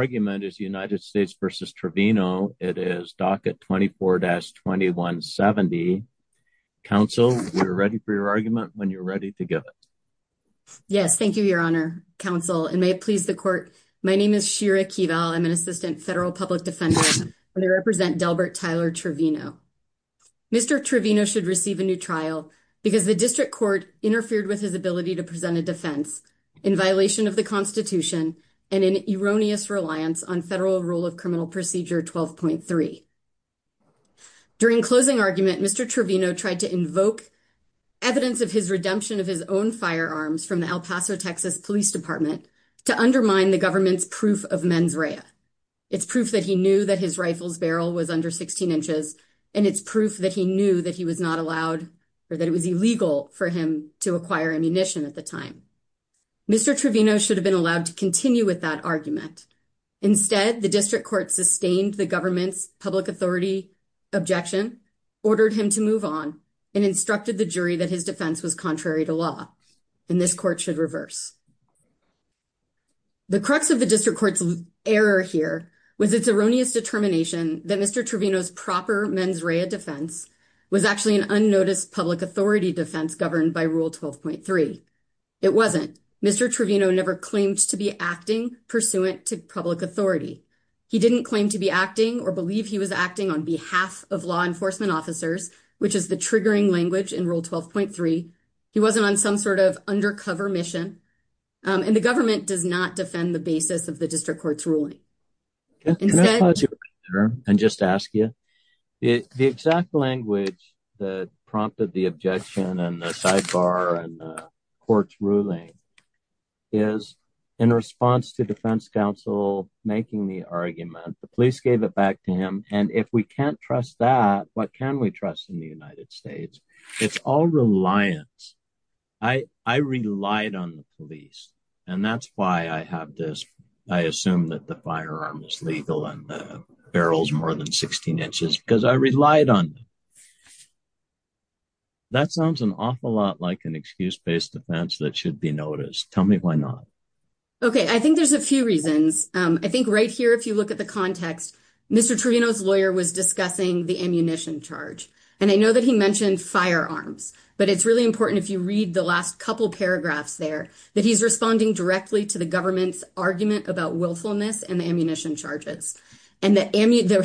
Your argument is United States v. Trevino. It is docket 24-2170. Counsel, you're ready for your argument when you're ready to give it. Yes, thank you, Your Honor, Counsel, and may it please the Court. My name is Shira Kival. I'm an Assistant Federal Public Defender. I represent Delbert Tyler Trevino. Mr. Trevino should receive a new trial because the District Court interfered with his ability to present a defense in violation of the Constitution and in erroneous reliance on Federal Rule of Criminal Procedure 12.3. During closing argument, Mr. Trevino tried to invoke evidence of his redemption of his own firearms from the El Paso, Texas, Police Department to undermine the government's proof of mens rea. It's proof that he knew that his rifle's barrel was under 16 inches, and it's proof that he knew that he was not allowed or that it was illegal for him to acquire ammunition at the time. Mr. Trevino should have been allowed to continue with that argument. Instead, the District Court sustained the government's public authority objection, ordered him to move on, and instructed the jury that his defense was contrary to law, and this Court should reverse. The crux of the District Court's error here was its erroneous determination that Mr. Trevino's proper mens rea defense was actually an unnoticed public authority defense governed by Rule 12.3. It wasn't. Mr. Trevino never claimed to be acting pursuant to public authority. He didn't claim to be acting or believe he was acting on behalf of law enforcement officers, which is the triggering language in Rule 12.3. He wasn't on some sort of undercover mission. And the government does not defend the basis of the District Court's ruling. Can I pause you right there and just ask you? The exact language that prompted the objection and the sidebar and the Court's ruling is in response to defense counsel making the argument, the police gave it back to him, and if we can't trust that, what can we trust in the United States? It's all reliance. I relied on the police, and that's why I have this. I assume that the firearm is legal and the barrel's more than 16 inches because I relied on them. That sounds an awful lot like an excuse-based defense that should be noticed. Tell me why not. Okay, I think there's a few reasons. I think right here, if you look at the context, Mr. Trevino's lawyer was discussing the ammunition charge, and I know that he mentioned firearms, but it's really important if you read the last couple paragraphs there that he's responding directly to the government's argument about willfulness and the ammunition charges and that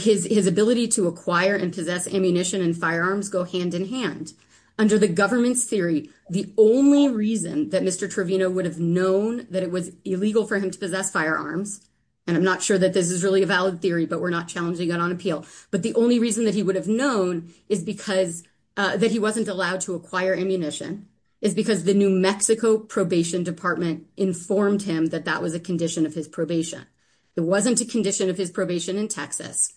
his ability to acquire and possess ammunition and firearms go hand in hand. Under the government's theory, the only reason that Mr. Trevino would have known that it was illegal for him to possess firearms, and I'm not sure that this is really a valid theory, but we're not challenging it on appeal, but the only reason that he would have known that he wasn't allowed to acquire ammunition is because the New Mexico Probation Department informed him that that was a condition of his probation. It wasn't a condition of his probation in Texas.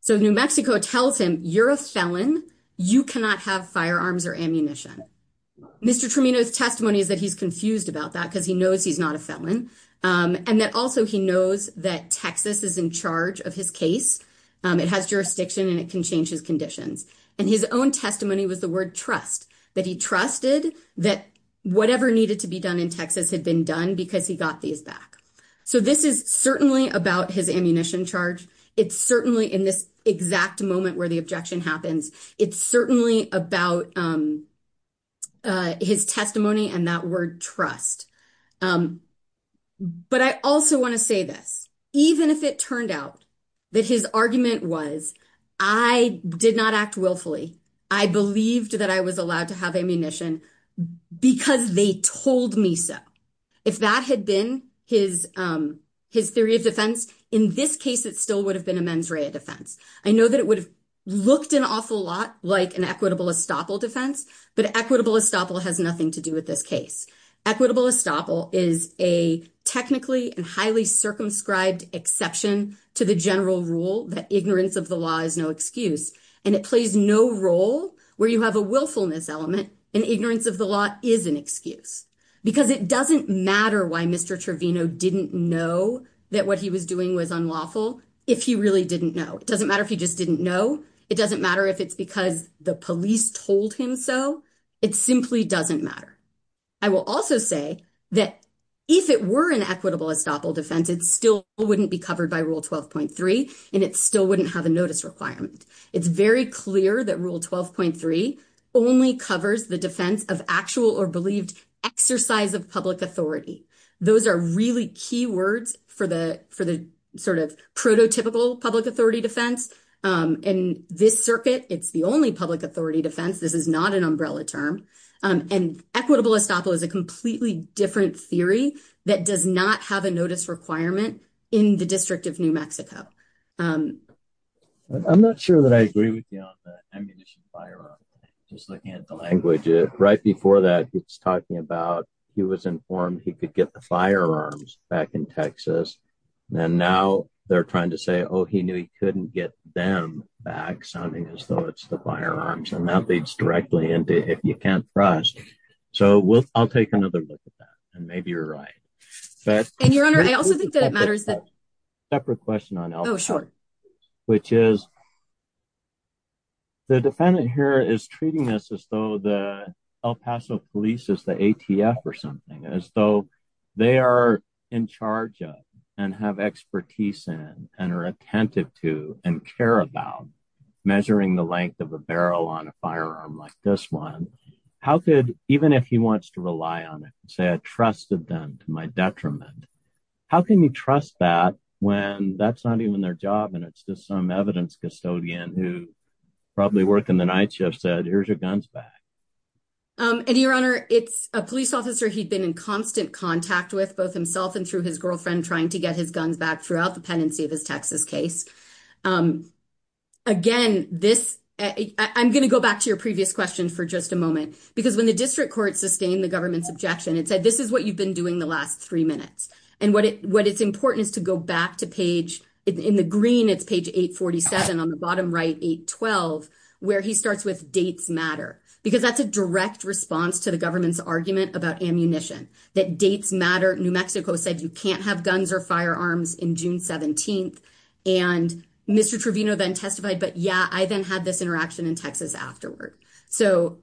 So New Mexico tells him, you're a felon. You cannot have firearms or ammunition. Mr. Trevino's testimony is that he's confused about that because he knows he's not a felon, and that also he knows that Texas is in charge of his case. It has jurisdiction and it can change his conditions, and his own testimony was the word trust, that he trusted that whatever needed to be done in Texas had been done because he got these back. So this is certainly about his ammunition charge. It's certainly in this exact moment where the objection happens. It's certainly about his testimony and that word trust, but I also want to say this. Even if it turned out that his argument was, I did not act willfully, I believed that I was allowed to have ammunition because they told me so, if that had been his theory of defense, in this case it still would have been a mens rea defense. I know that it would have looked an awful lot like an equitable estoppel defense, but equitable estoppel has nothing to do with this case. Equitable estoppel is a technically and highly circumscribed exception to the general rule that ignorance of the law is no excuse, and it plays no role where you have a willfulness element and ignorance of the law is an excuse because it doesn't matter why Mr. Trevino didn't know that what he was doing was unlawful if he really didn't know. It doesn't matter if he just didn't know. It doesn't matter if it's because the police told him so. It simply doesn't matter. I will also say that if it were an equitable estoppel defense, it still wouldn't be covered by Rule 12.3 and it still wouldn't have a notice requirement. It's very clear that Rule 12.3 only covers the defense of actual or believed exercise of public authority. Those are really key words for the sort of prototypical public authority defense. And this circuit, it's the only public authority defense. This is not an umbrella term. And equitable estoppel is a completely different theory that does not have a notice requirement in the District of New Mexico. I'm not sure that I agree with you on the ammunition firearm, just looking at the language. Right before that, it's talking about he was informed he could get the firearms back in Texas, and now they're trying to say, oh, he knew he couldn't get them back, sounding as though it's the firearms. And that leads directly into if you can't trust. So I'll take another look at that. And maybe you're right. And, Your Honor, I also think that it matters that... Separate question on El Paso. ...and have expertise in and are attentive to and care about measuring the length of a barrel on a firearm like this one. How could, even if he wants to rely on it, say I trusted them to my detriment, how can you trust that when that's not even their job and it's just some evidence custodian who probably worked in the night shift said here's your guns back? And, Your Honor, it's a police officer he'd been in constant contact with, both himself and through his girlfriend, trying to get his guns back throughout the pendency of his Texas case. Again, this... I'm going to go back to your previous question for just a moment, because when the district court sustained the government's objection, it said this is what you've been doing the last three minutes. And what it's important is to go back to page... In the green, it's page 847. On the bottom right, 812, where he starts with dates matter, because that's a direct response to the government's argument about ammunition, that dates matter. New Mexico said you can't have guns or firearms in June 17th. And Mr. Trevino then testified, but yeah, I then had this interaction in Texas afterward. So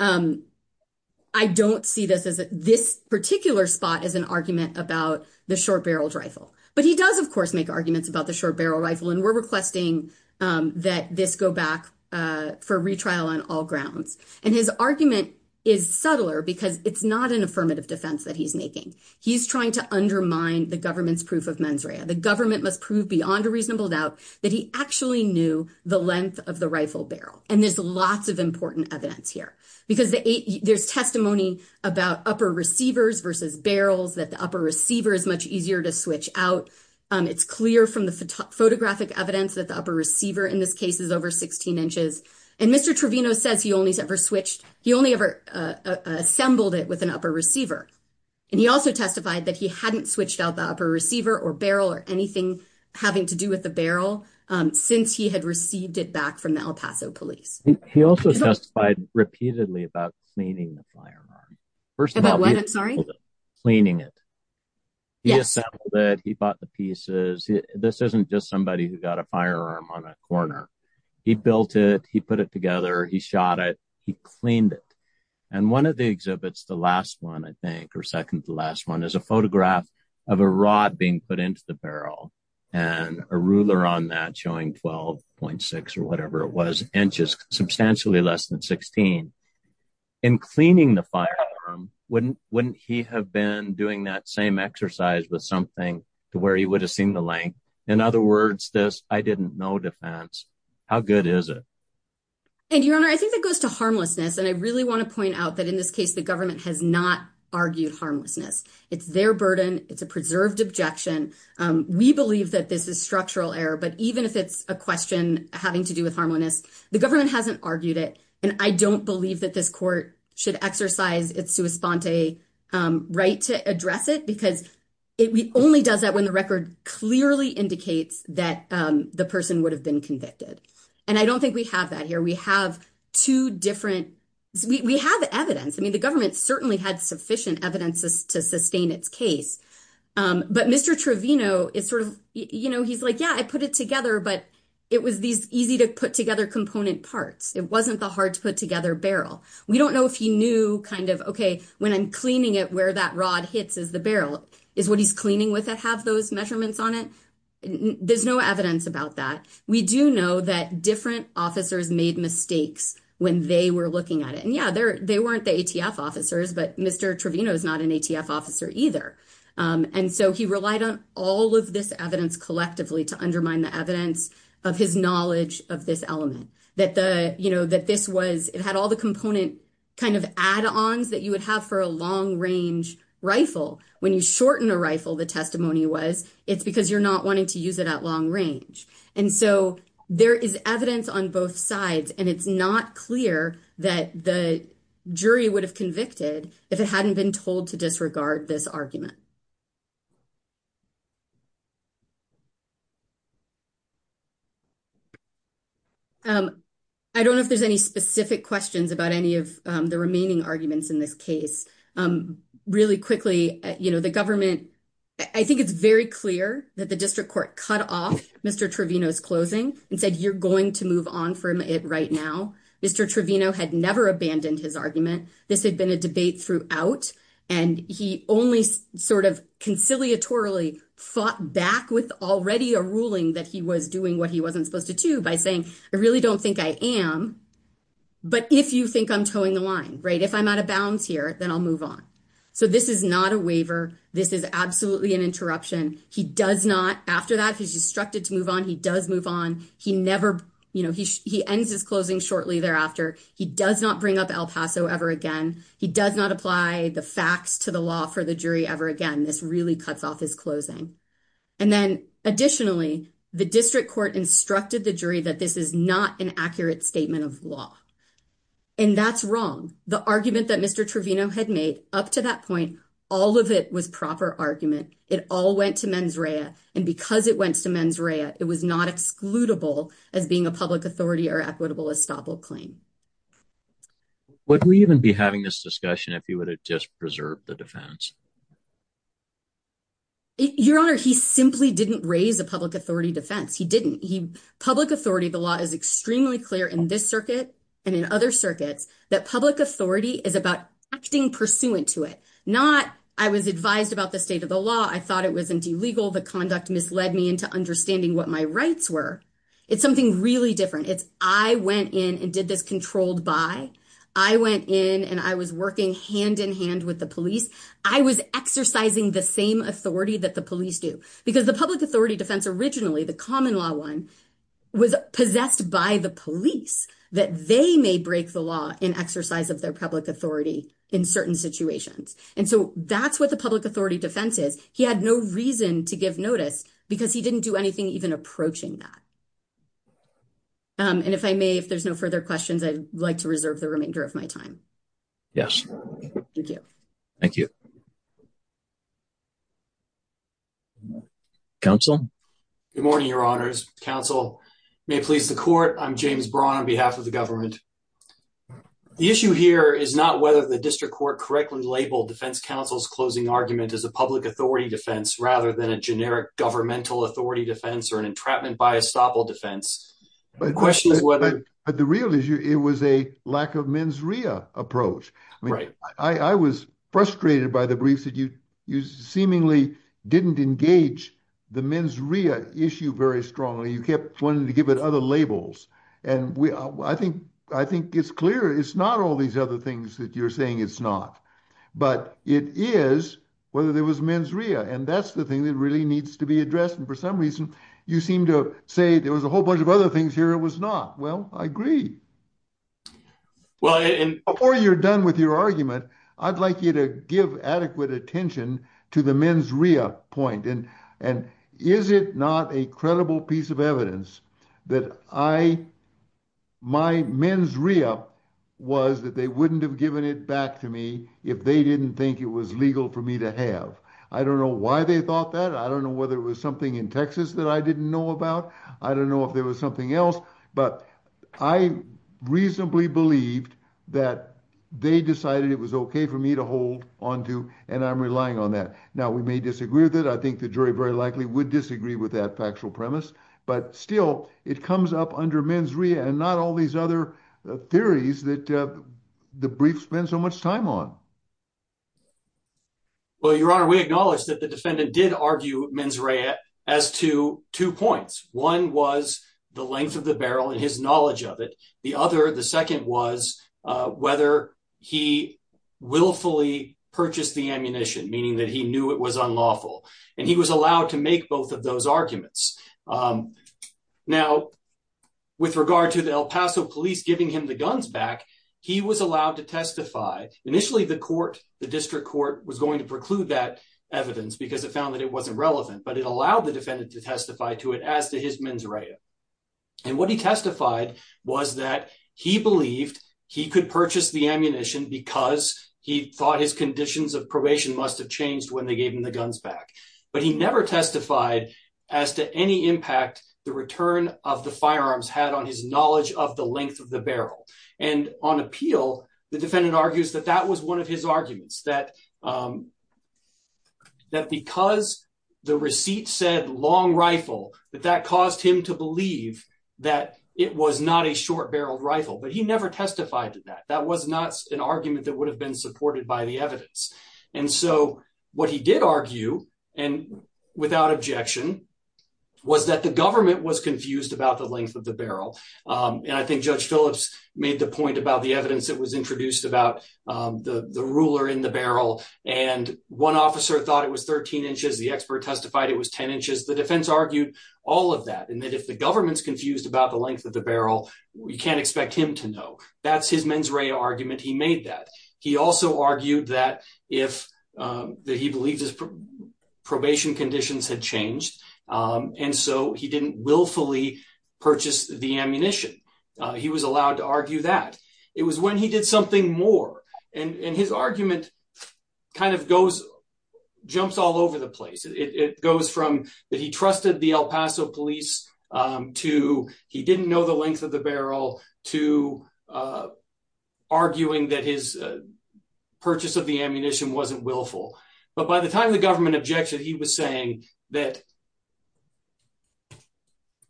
I don't see this particular spot as an argument about the short-barreled rifle. But he does, of course, make arguments about the short-barreled rifle, and we're requesting that this go back for retrial on all grounds. And his argument is subtler because it's not an affirmative defense that he's making. He's trying to undermine the government's proof of mens rea. The government must prove beyond a reasonable doubt that he actually knew the length of the rifle barrel. And there's lots of important evidence here, because there's testimony about upper receivers versus barrels, that the upper receiver is much easier to switch out. It's clear from the photographic evidence that the upper receiver in this case is over 16 inches. And Mr. Trevino says he only ever switched, he only ever assembled it with an upper receiver. And he also testified that he hadn't switched out the upper receiver or barrel or anything having to do with the barrel since he had received it back from the El Paso police. He also testified repeatedly about cleaning the firearm. About what, I'm sorry? Cleaning it. Yes. He assembled it, he bought the pieces. This isn't just somebody who got a firearm on a corner. He built it, he put it together, he shot it, he cleaned it. And one of the exhibits, the last one I think, or second to the last one, is a photograph of a rod being put into the barrel. And a ruler on that showing 12.6 or whatever it was, inches, substantially less than 16. In cleaning the firearm, wouldn't he have been doing that same exercise with something to where he would have seen the length? In other words, this I didn't know defense. How good is it? And, Your Honor, I think that goes to harmlessness. And I really want to point out that in this case, the government has not argued harmlessness. It's their burden. It's a preserved objection. We believe that this is structural error. But even if it's a question having to do with harmlessness, the government hasn't argued it. And I don't believe that this court should exercise its sua sponte right to address it because it only does that when the record clearly indicates that the person would have been convicted. And I don't think we have that here. We have two different, we have evidence. I mean, the government certainly had sufficient evidence to sustain its case. But Mr. Trevino is sort of, you know, he's like, yeah, I put it together, but it was these easy-to-put-together component parts. It wasn't the hard-to-put-together barrel. We don't know if he knew kind of, okay, when I'm cleaning it, where that rod hits is the barrel. Is what he's cleaning with it have those measurements on it? There's no evidence about that. We do know that different officers made mistakes when they were looking at it. And, yeah, they weren't the ATF officers, but Mr. Trevino is not an ATF officer either. And so he relied on all of this evidence collectively to undermine the evidence of his knowledge of this element, that this was, it had all the component kind of add-ons that you would have for a long-range rifle. When you shorten a rifle, the testimony was, it's because you're not wanting to use it at long range. And so there is evidence on both sides, and it's not clear that the jury would have convicted if it hadn't been told to disregard this argument. I don't know if there's any specific questions about any of the remaining arguments in this case. Really quickly, you know, the government, I think it's very clear that the district court cut off Mr. Trevino's closing and said, you're going to move on from it right now. Mr. Trevino had never abandoned his argument. This had been a debate throughout, and he only sort of conciliatorily fought back with already a ruling that he was doing what he wasn't supposed to do by saying, I really don't think I am. But if you think I'm towing the line, right, if I'm out of bounds here, then I'll move on. So this is not a waiver. This is absolutely an interruption. He does not, after that, he's instructed to move on. He does move on. He never, you know, he ends his closing shortly thereafter. He does not bring up El Paso ever again. He does not apply the facts to the law for the jury ever again. This really cuts off his closing. And then additionally, the district court instructed the jury that this is not an accurate statement of law. And that's wrong. The argument that Mr. Trevino had made up to that point, all of it was proper argument. It all went to mens rea, and because it went to mens rea, it was not excludable as being a public authority or equitable estoppel claim. Would we even be having this discussion if you would have just preserved the defense? Your Honor, he simply didn't raise a public authority defense. He didn't. Public authority of the law is extremely clear in this circuit and in other circuits that public authority is about acting pursuant to it. Not I was advised about the state of the law. I thought it was illegal. The conduct misled me into understanding what my rights were. It's something really different. It's I went in and did this controlled by. I went in and I was working hand in hand with the police. I was exercising the same authority that the police do because the public authority defense originally, the common law one was possessed by the police that they may break the law in exercise of their public authority in certain situations. And so that's what the public authority defense is. He had no reason to give notice because he didn't do anything even approaching that. And if I may, if there's no further questions, I'd like to reserve the remainder of my time. Yes. Thank you. Thank you. Counsel. Good morning, Your Honor's counsel may please the court. I'm James Braun on behalf of the government. The issue here is not whether the district court correctly labeled defense counsel's closing argument as a public authority defense, rather than a generic governmental authority defense or an entrapment by estoppel defense. But the real issue, it was a lack of mens rea approach. Right. I was frustrated by the briefs that you, you seemingly didn't engage the men's rea issue very strongly. You kept wanting to give it other labels. And I think, I think it's clear. It's not all these other things that you're saying it's not, but it is whether there was men's rea. And that's the thing that really needs to be addressed. And for some reason, you seem to say there was a whole bunch of other things here. It was not. Well, I agree. Well, and before you're done with your argument, I'd like you to give adequate attention to the men's rea point. And is it not a credible piece of evidence that I my men's rea was that they wouldn't have given it back to me if they didn't think it was legal for me to have. I don't know why they thought that. I don't know whether it was something in Texas that I didn't know about. I don't know if there was something else, but I reasonably believed that they decided it was OK for me to hold on to. And I'm relying on that. Now, we may disagree with it. I think the jury very likely would disagree with that factual premise. But still, it comes up under men's rea and not all these other theories that the brief spend so much time on. Well, Your Honor, we acknowledge that the defendant did argue men's rea as to two points. One was the length of the barrel and his knowledge of it. The other. The second was whether he willfully purchased the ammunition, meaning that he knew it was unlawful and he was allowed to make both of those arguments. Now, with regard to the El Paso police giving him the guns back, he was allowed to testify. Initially, the court, the district court was going to preclude that evidence because it found that it wasn't relevant. But it allowed the defendant to testify to it as to his men's rea. And what he testified was that he believed he could purchase the ammunition because he thought his conditions of probation must have changed when they gave him the guns back. But he never testified as to any impact the return of the firearms had on his knowledge of the length of the barrel. And on appeal, the defendant argues that that was one of his arguments, that because the receipt said long rifle, that that caused him to believe that it was not a short barreled rifle. But he never testified to that. That was not an argument that would have been supported by the evidence. And so what he did argue, and without objection, was that the government was confused about the length of the barrel. And I think Judge Phillips made the point about the evidence that was introduced about the ruler in the barrel. And one officer thought it was 13 inches. The expert testified it was 10 inches. The defense argued all of that and that if the government's confused about the length of the barrel, we can't expect him to know. That's his men's rea argument. He made that. He also argued that if he believed his probation conditions had changed and so he didn't willfully purchase the ammunition, he was allowed to argue that. It was when he did something more. And his argument kind of goes, jumps all over the place. It goes from that he trusted the El Paso police to he didn't know the length of the barrel to arguing that his purchase of the ammunition wasn't willful. But by the time the government objected, he was saying that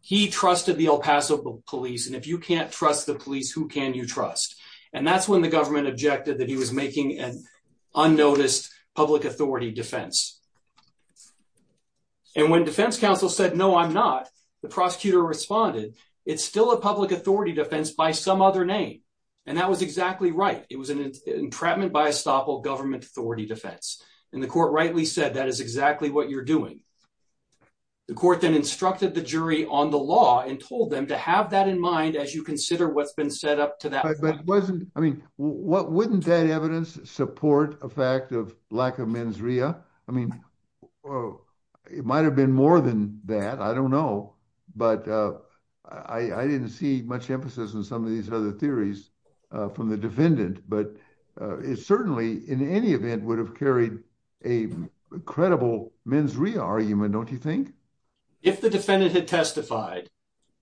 he trusted the El Paso police and if you can't trust the police, who can you trust? And that's when the government objected that he was making an unnoticed public authority defense. And when defense counsel said, no, I'm not, the prosecutor responded, it's still a public authority defense by some other name. And that was exactly right. It was an entrapment by estoppel government authority defense. And the court rightly said, that is exactly what you're doing. The court then instructed the jury on the law and told them to have that in mind as you consider what's been set up to that. I mean, what wouldn't that evidence support a fact of lack of mens rea? I mean, it might have been more than that. I don't know. But I didn't see much emphasis in some of these other theories from the defendant. But it certainly, in any event, would have carried a credible mens rea argument, don't you think? If the defendant had testified,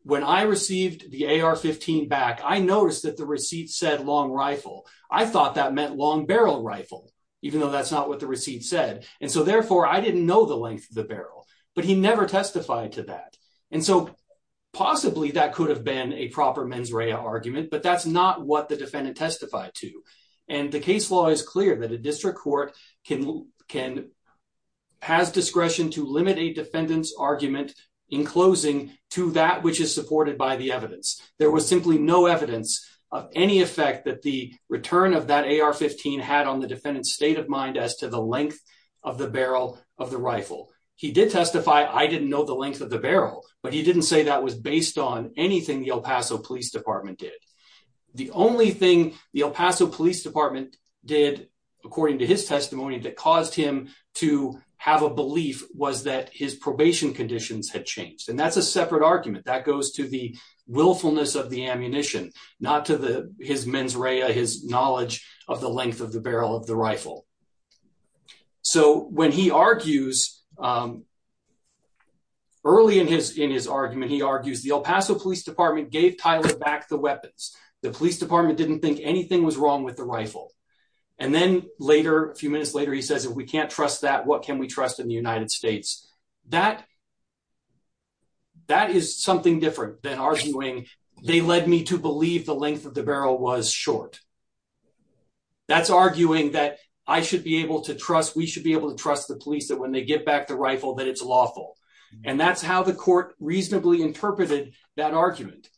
when I received the AR-15 back, I noticed that the receipt said long rifle. I thought that meant long barrel rifle, even though that's not what the receipt said. And so therefore, I didn't know the length of the barrel, but he never testified to that. And so possibly that could have been a proper mens rea argument, but that's not what the defendant testified to. And the case law is clear that a district court has discretion to limit a defendant's argument in closing to that which is supported by the evidence. There was simply no evidence of any effect that the return of that AR-15 had on the defendant's state of mind as to the length of the barrel of the rifle. He did testify, I didn't know the length of the barrel, but he didn't say that was based on anything the El Paso Police Department did. The only thing the El Paso Police Department did, according to his testimony, that caused him to have a belief was that his probation conditions had changed. And that's a separate argument. That goes to the willfulness of the ammunition, not to his mens rea, his knowledge of the length of the barrel of the rifle. So when he argues, early in his argument, he argues the El Paso Police Department gave Tyler back the weapons. The police department didn't think anything was wrong with the rifle. And then later, a few minutes later, he says, if we can't trust that, what can we trust in the United States? That is something different than arguing they led me to believe the length of the barrel was short. That's arguing that I should be able to trust, we should be able to trust the police that when they get back the rifle, that it's lawful. And that's how the court reasonably interpreted that argument.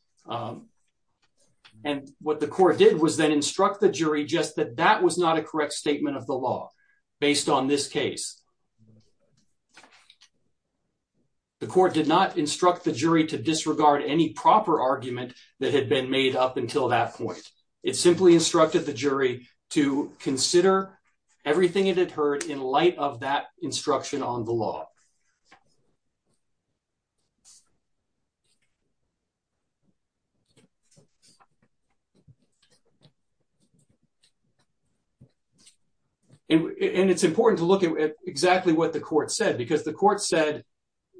And what the court did was then instruct the jury just that that was not a correct statement of the law based on this case. The court did not instruct the jury to disregard any proper argument that had been made up until that point. It simply instructed the jury to consider everything it had heard in light of that instruction on the law. And it's important to look at exactly what the court said, because the court said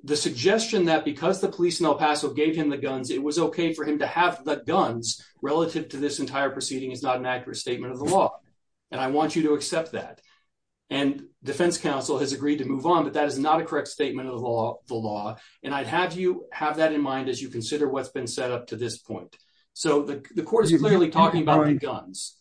the suggestion that because the police in El Paso gave him the guns, it was okay for him to have the guns relative to this entire proceeding is not an accurate statement of the law. And I want you to accept that. And defense counsel has agreed to move on, but that is not a correct statement of the law. And I'd have you have that in mind as you consider what's been set up to this point. So the court is clearly talking about guns.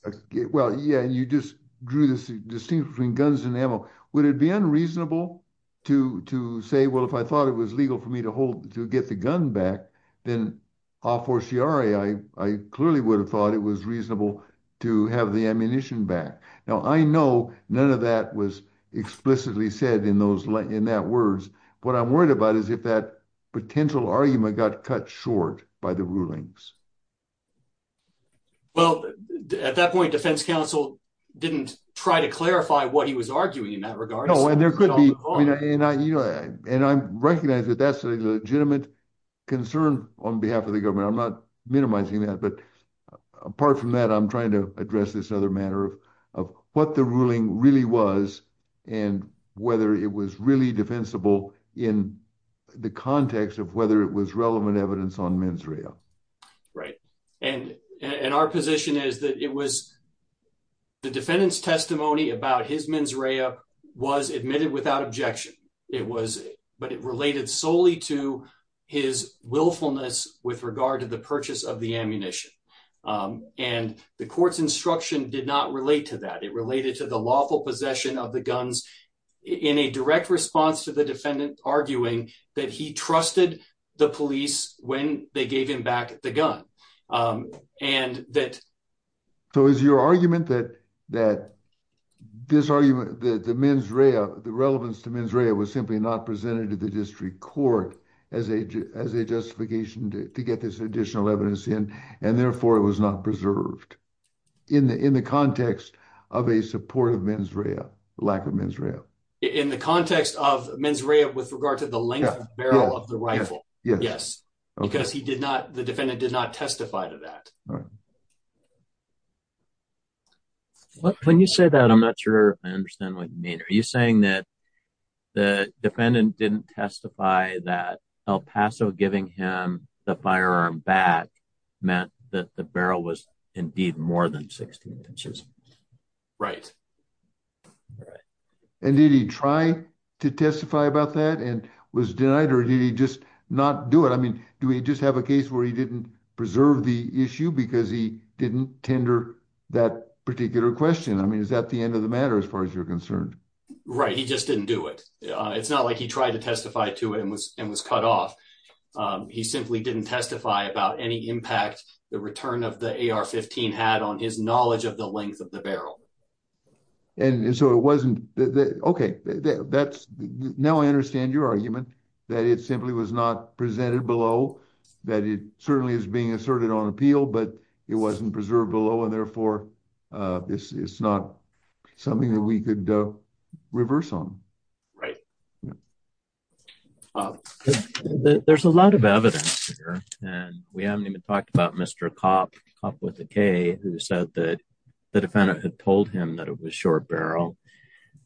Well, yeah, you just drew this distinction between guns and ammo. Would it be unreasonable to say, well, if I thought it was legal for me to get the gun back, then a fortiori, I clearly would have thought it was reasonable to have the ammunition back. Now, I know none of that was explicitly said in that words. What I'm worried about is if that potential argument got cut short by the rulings. Well, at that point, defense counsel didn't try to clarify what he was arguing in that regard. And there could be. And I recognize that that's a legitimate concern on behalf of the government. I'm not minimizing that. But apart from that, I'm trying to address this other matter of of what the ruling really was and whether it was really defensible in the context of whether it was relevant evidence on men's rail. Right. And and our position is that it was the defendant's testimony about his men's rail was admitted without objection. It was but it related solely to his willfulness with regard to the purchase of the ammunition. And the court's instruction did not relate to that it related to the lawful possession of the guns in a direct response to the defendant, arguing that he trusted the police when they gave him back the gun and that. So, is your argument that that this argument that the men's rail, the relevance to men's rail was simply not presented to the district court as a, as a justification to get this additional evidence in and therefore it was not preserved in the, in the context of a supportive men's rail lack of Israel. In the context of men's rail with regard to the length of the rifle. Yes, because he did not the defendant did not testify to that. When you say that I'm not sure I understand what you mean. Are you saying that the defendant didn't testify that El Paso giving him the firearm back meant that the barrel was indeed more than 16 inches. Right. And did he try to testify about that and was denied or did he just not do it I mean, do we just have a case where he didn't preserve the issue because he didn't tender that particular question I mean is that the end of the matter as far as you're concerned. Right, he just didn't do it. It's not like he tried to testify to it and was, and was cut off. He simply didn't testify about any impact, the return of the AR 15 had on his knowledge of the length of the barrel. And so it wasn't. Okay, that's now I understand your argument that it simply was not presented below that it certainly is being asserted on appeal but it wasn't preserved below and therefore, this is not something that we could reverse on. Right. There's a lot of evidence here, and we haven't even talked about Mr cop cop with a K, who said that the defendant had told him that it was short barrel,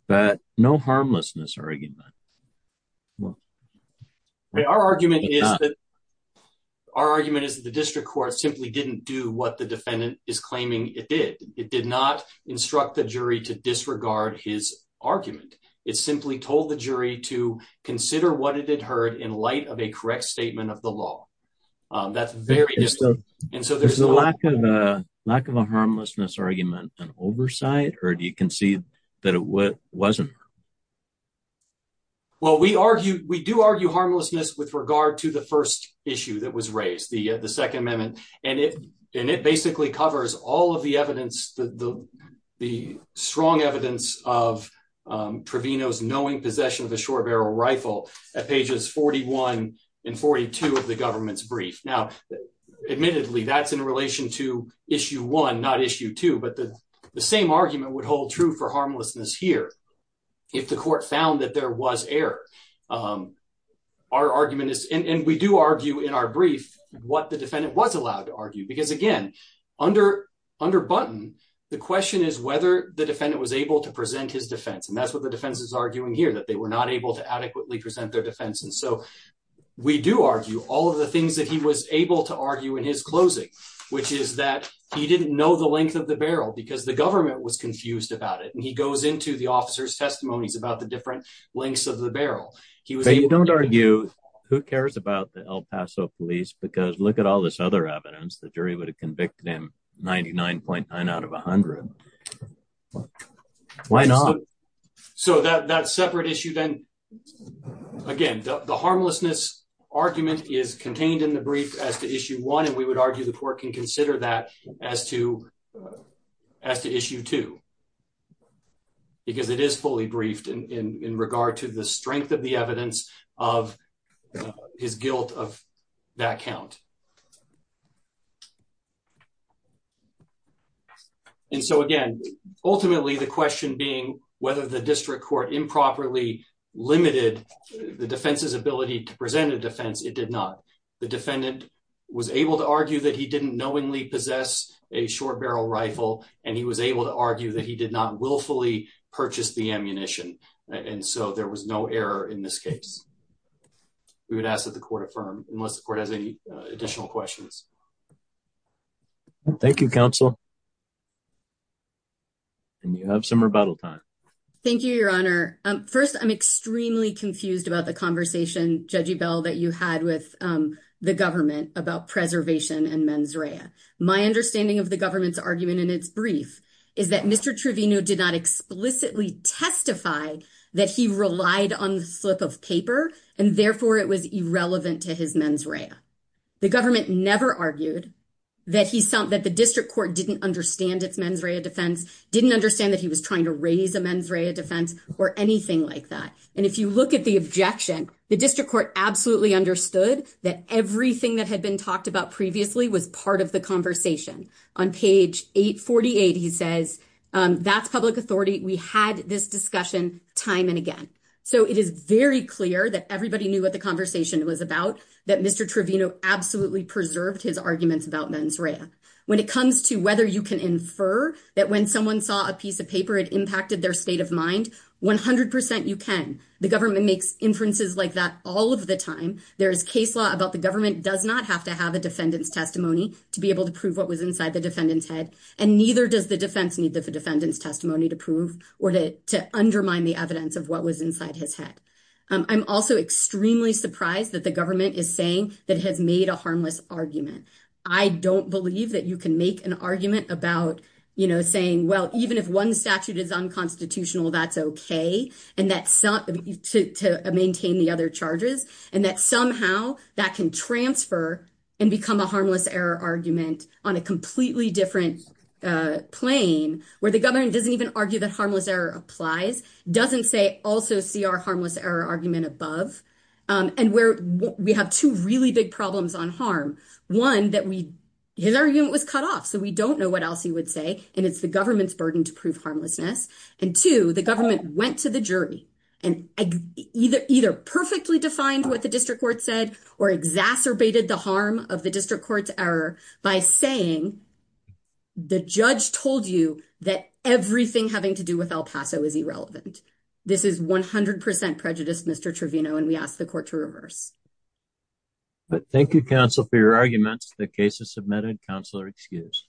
but no harmlessness argument. Well, our argument is that our argument is the district court simply didn't do what the defendant is claiming it did, it did not instruct the jury to disregard his argument. It simply told the jury to consider what it had heard in light of a correct statement of the law. That's very useful. And so there's a lack of a lack of a harmlessness argument and oversight, or do you concede that it wasn't. Well, we argue, we do argue harmlessness with regard to the first issue that was raised the, the Second Amendment, and it, and it basically covers all of the evidence that the, the strong evidence of provinos knowing possession of a short barrel rifle at pages 41 and 42 of the government's that's in relation to issue one not issue two but the same argument would hold true for harmlessness here. If the court found that there was air. Our argument is, and we do argue in our brief, what the defendant was allowed to argue because again, under under button. The question is whether the defendant was able to present his defense and that's what the defense is arguing here that they were not able to present their defense and so we do argue all of the things that he was able to argue in his closing, which is that he didn't know the length of the barrel because the government was confused about it and he goes into the officers testimonies about the different lengths of the barrel. He was a don't argue, who cares about the El Paso police because look at all this other evidence the jury would have convicted him 99.9 out of 100. Why not. So that that separate issue then. Again, the harmlessness argument is contained in the brief as to issue one and we would argue the court can consider that as to as to issue two, because it is fully briefed in regard to the strength of the evidence of his guilt of that count. And so again, ultimately the question being whether the district court improperly limited the defense's ability to present a defense it did not. The defendant was able to argue that he didn't knowingly possess a short barrel rifle, and he was able to argue that he did not willfully purchase the ammunition. And so there was no error in this case. We would ask that the court affirm, unless the court has any additional questions. Thank you, counsel. And you have some rebuttal time. Thank you, Your Honor. First, I'm extremely confused about the conversation judgy bell that you had with the government about preservation and mens rea. My understanding of the government's argument in its brief is that Mr Truvino did not explicitly testify that he relied on the slip of paper, and therefore it was irrelevant to his mens rea. The government never argued that he saw that the district court didn't understand its mens rea defense didn't understand that he was trying to raise a mens rea defense or anything like that. And if you look at the objection, the district court absolutely understood that everything that had been talked about previously was part of the conversation on page 848 he says that's public authority. We had this discussion, time and again. So it is very clear that everybody knew what the conversation was about that Mr Truvino absolutely preserved his arguments about mens rea. When it comes to whether you can infer that when someone saw a piece of paper it impacted their state of mind. 100% you can, the government makes inferences like that all of the time, there's case law about the government does not have to have a defendant's testimony to be able to prove what was inside the defendant's head, and neither does the defense need the defendant's testimony to prove, or to undermine the evidence of what was inside his head. I'm also extremely surprised that the government is saying that has made a harmless argument. I don't believe that you can make an argument about, you know, saying well even if one statute is unconstitutional that's okay. And that somehow that can transfer and become a harmless error argument on a completely different plane, where the government doesn't even argue that harmless error applies, doesn't say also see our harmless error argument above, and where we have two really big problems on harm. One that we, his argument was cut off so we don't know what else he would say, and it's the government's burden to prove harmlessness, and to the government went to the jury, and either either perfectly defined what the district court said, or exacerbated the harm of the district courts error by saying the judge told you that everything having to do with El Paso is irrelevant. This is 100% prejudice Mr Truvino and we asked the court to reverse. But thank you counsel for your arguments, the cases submitted counselor excuse.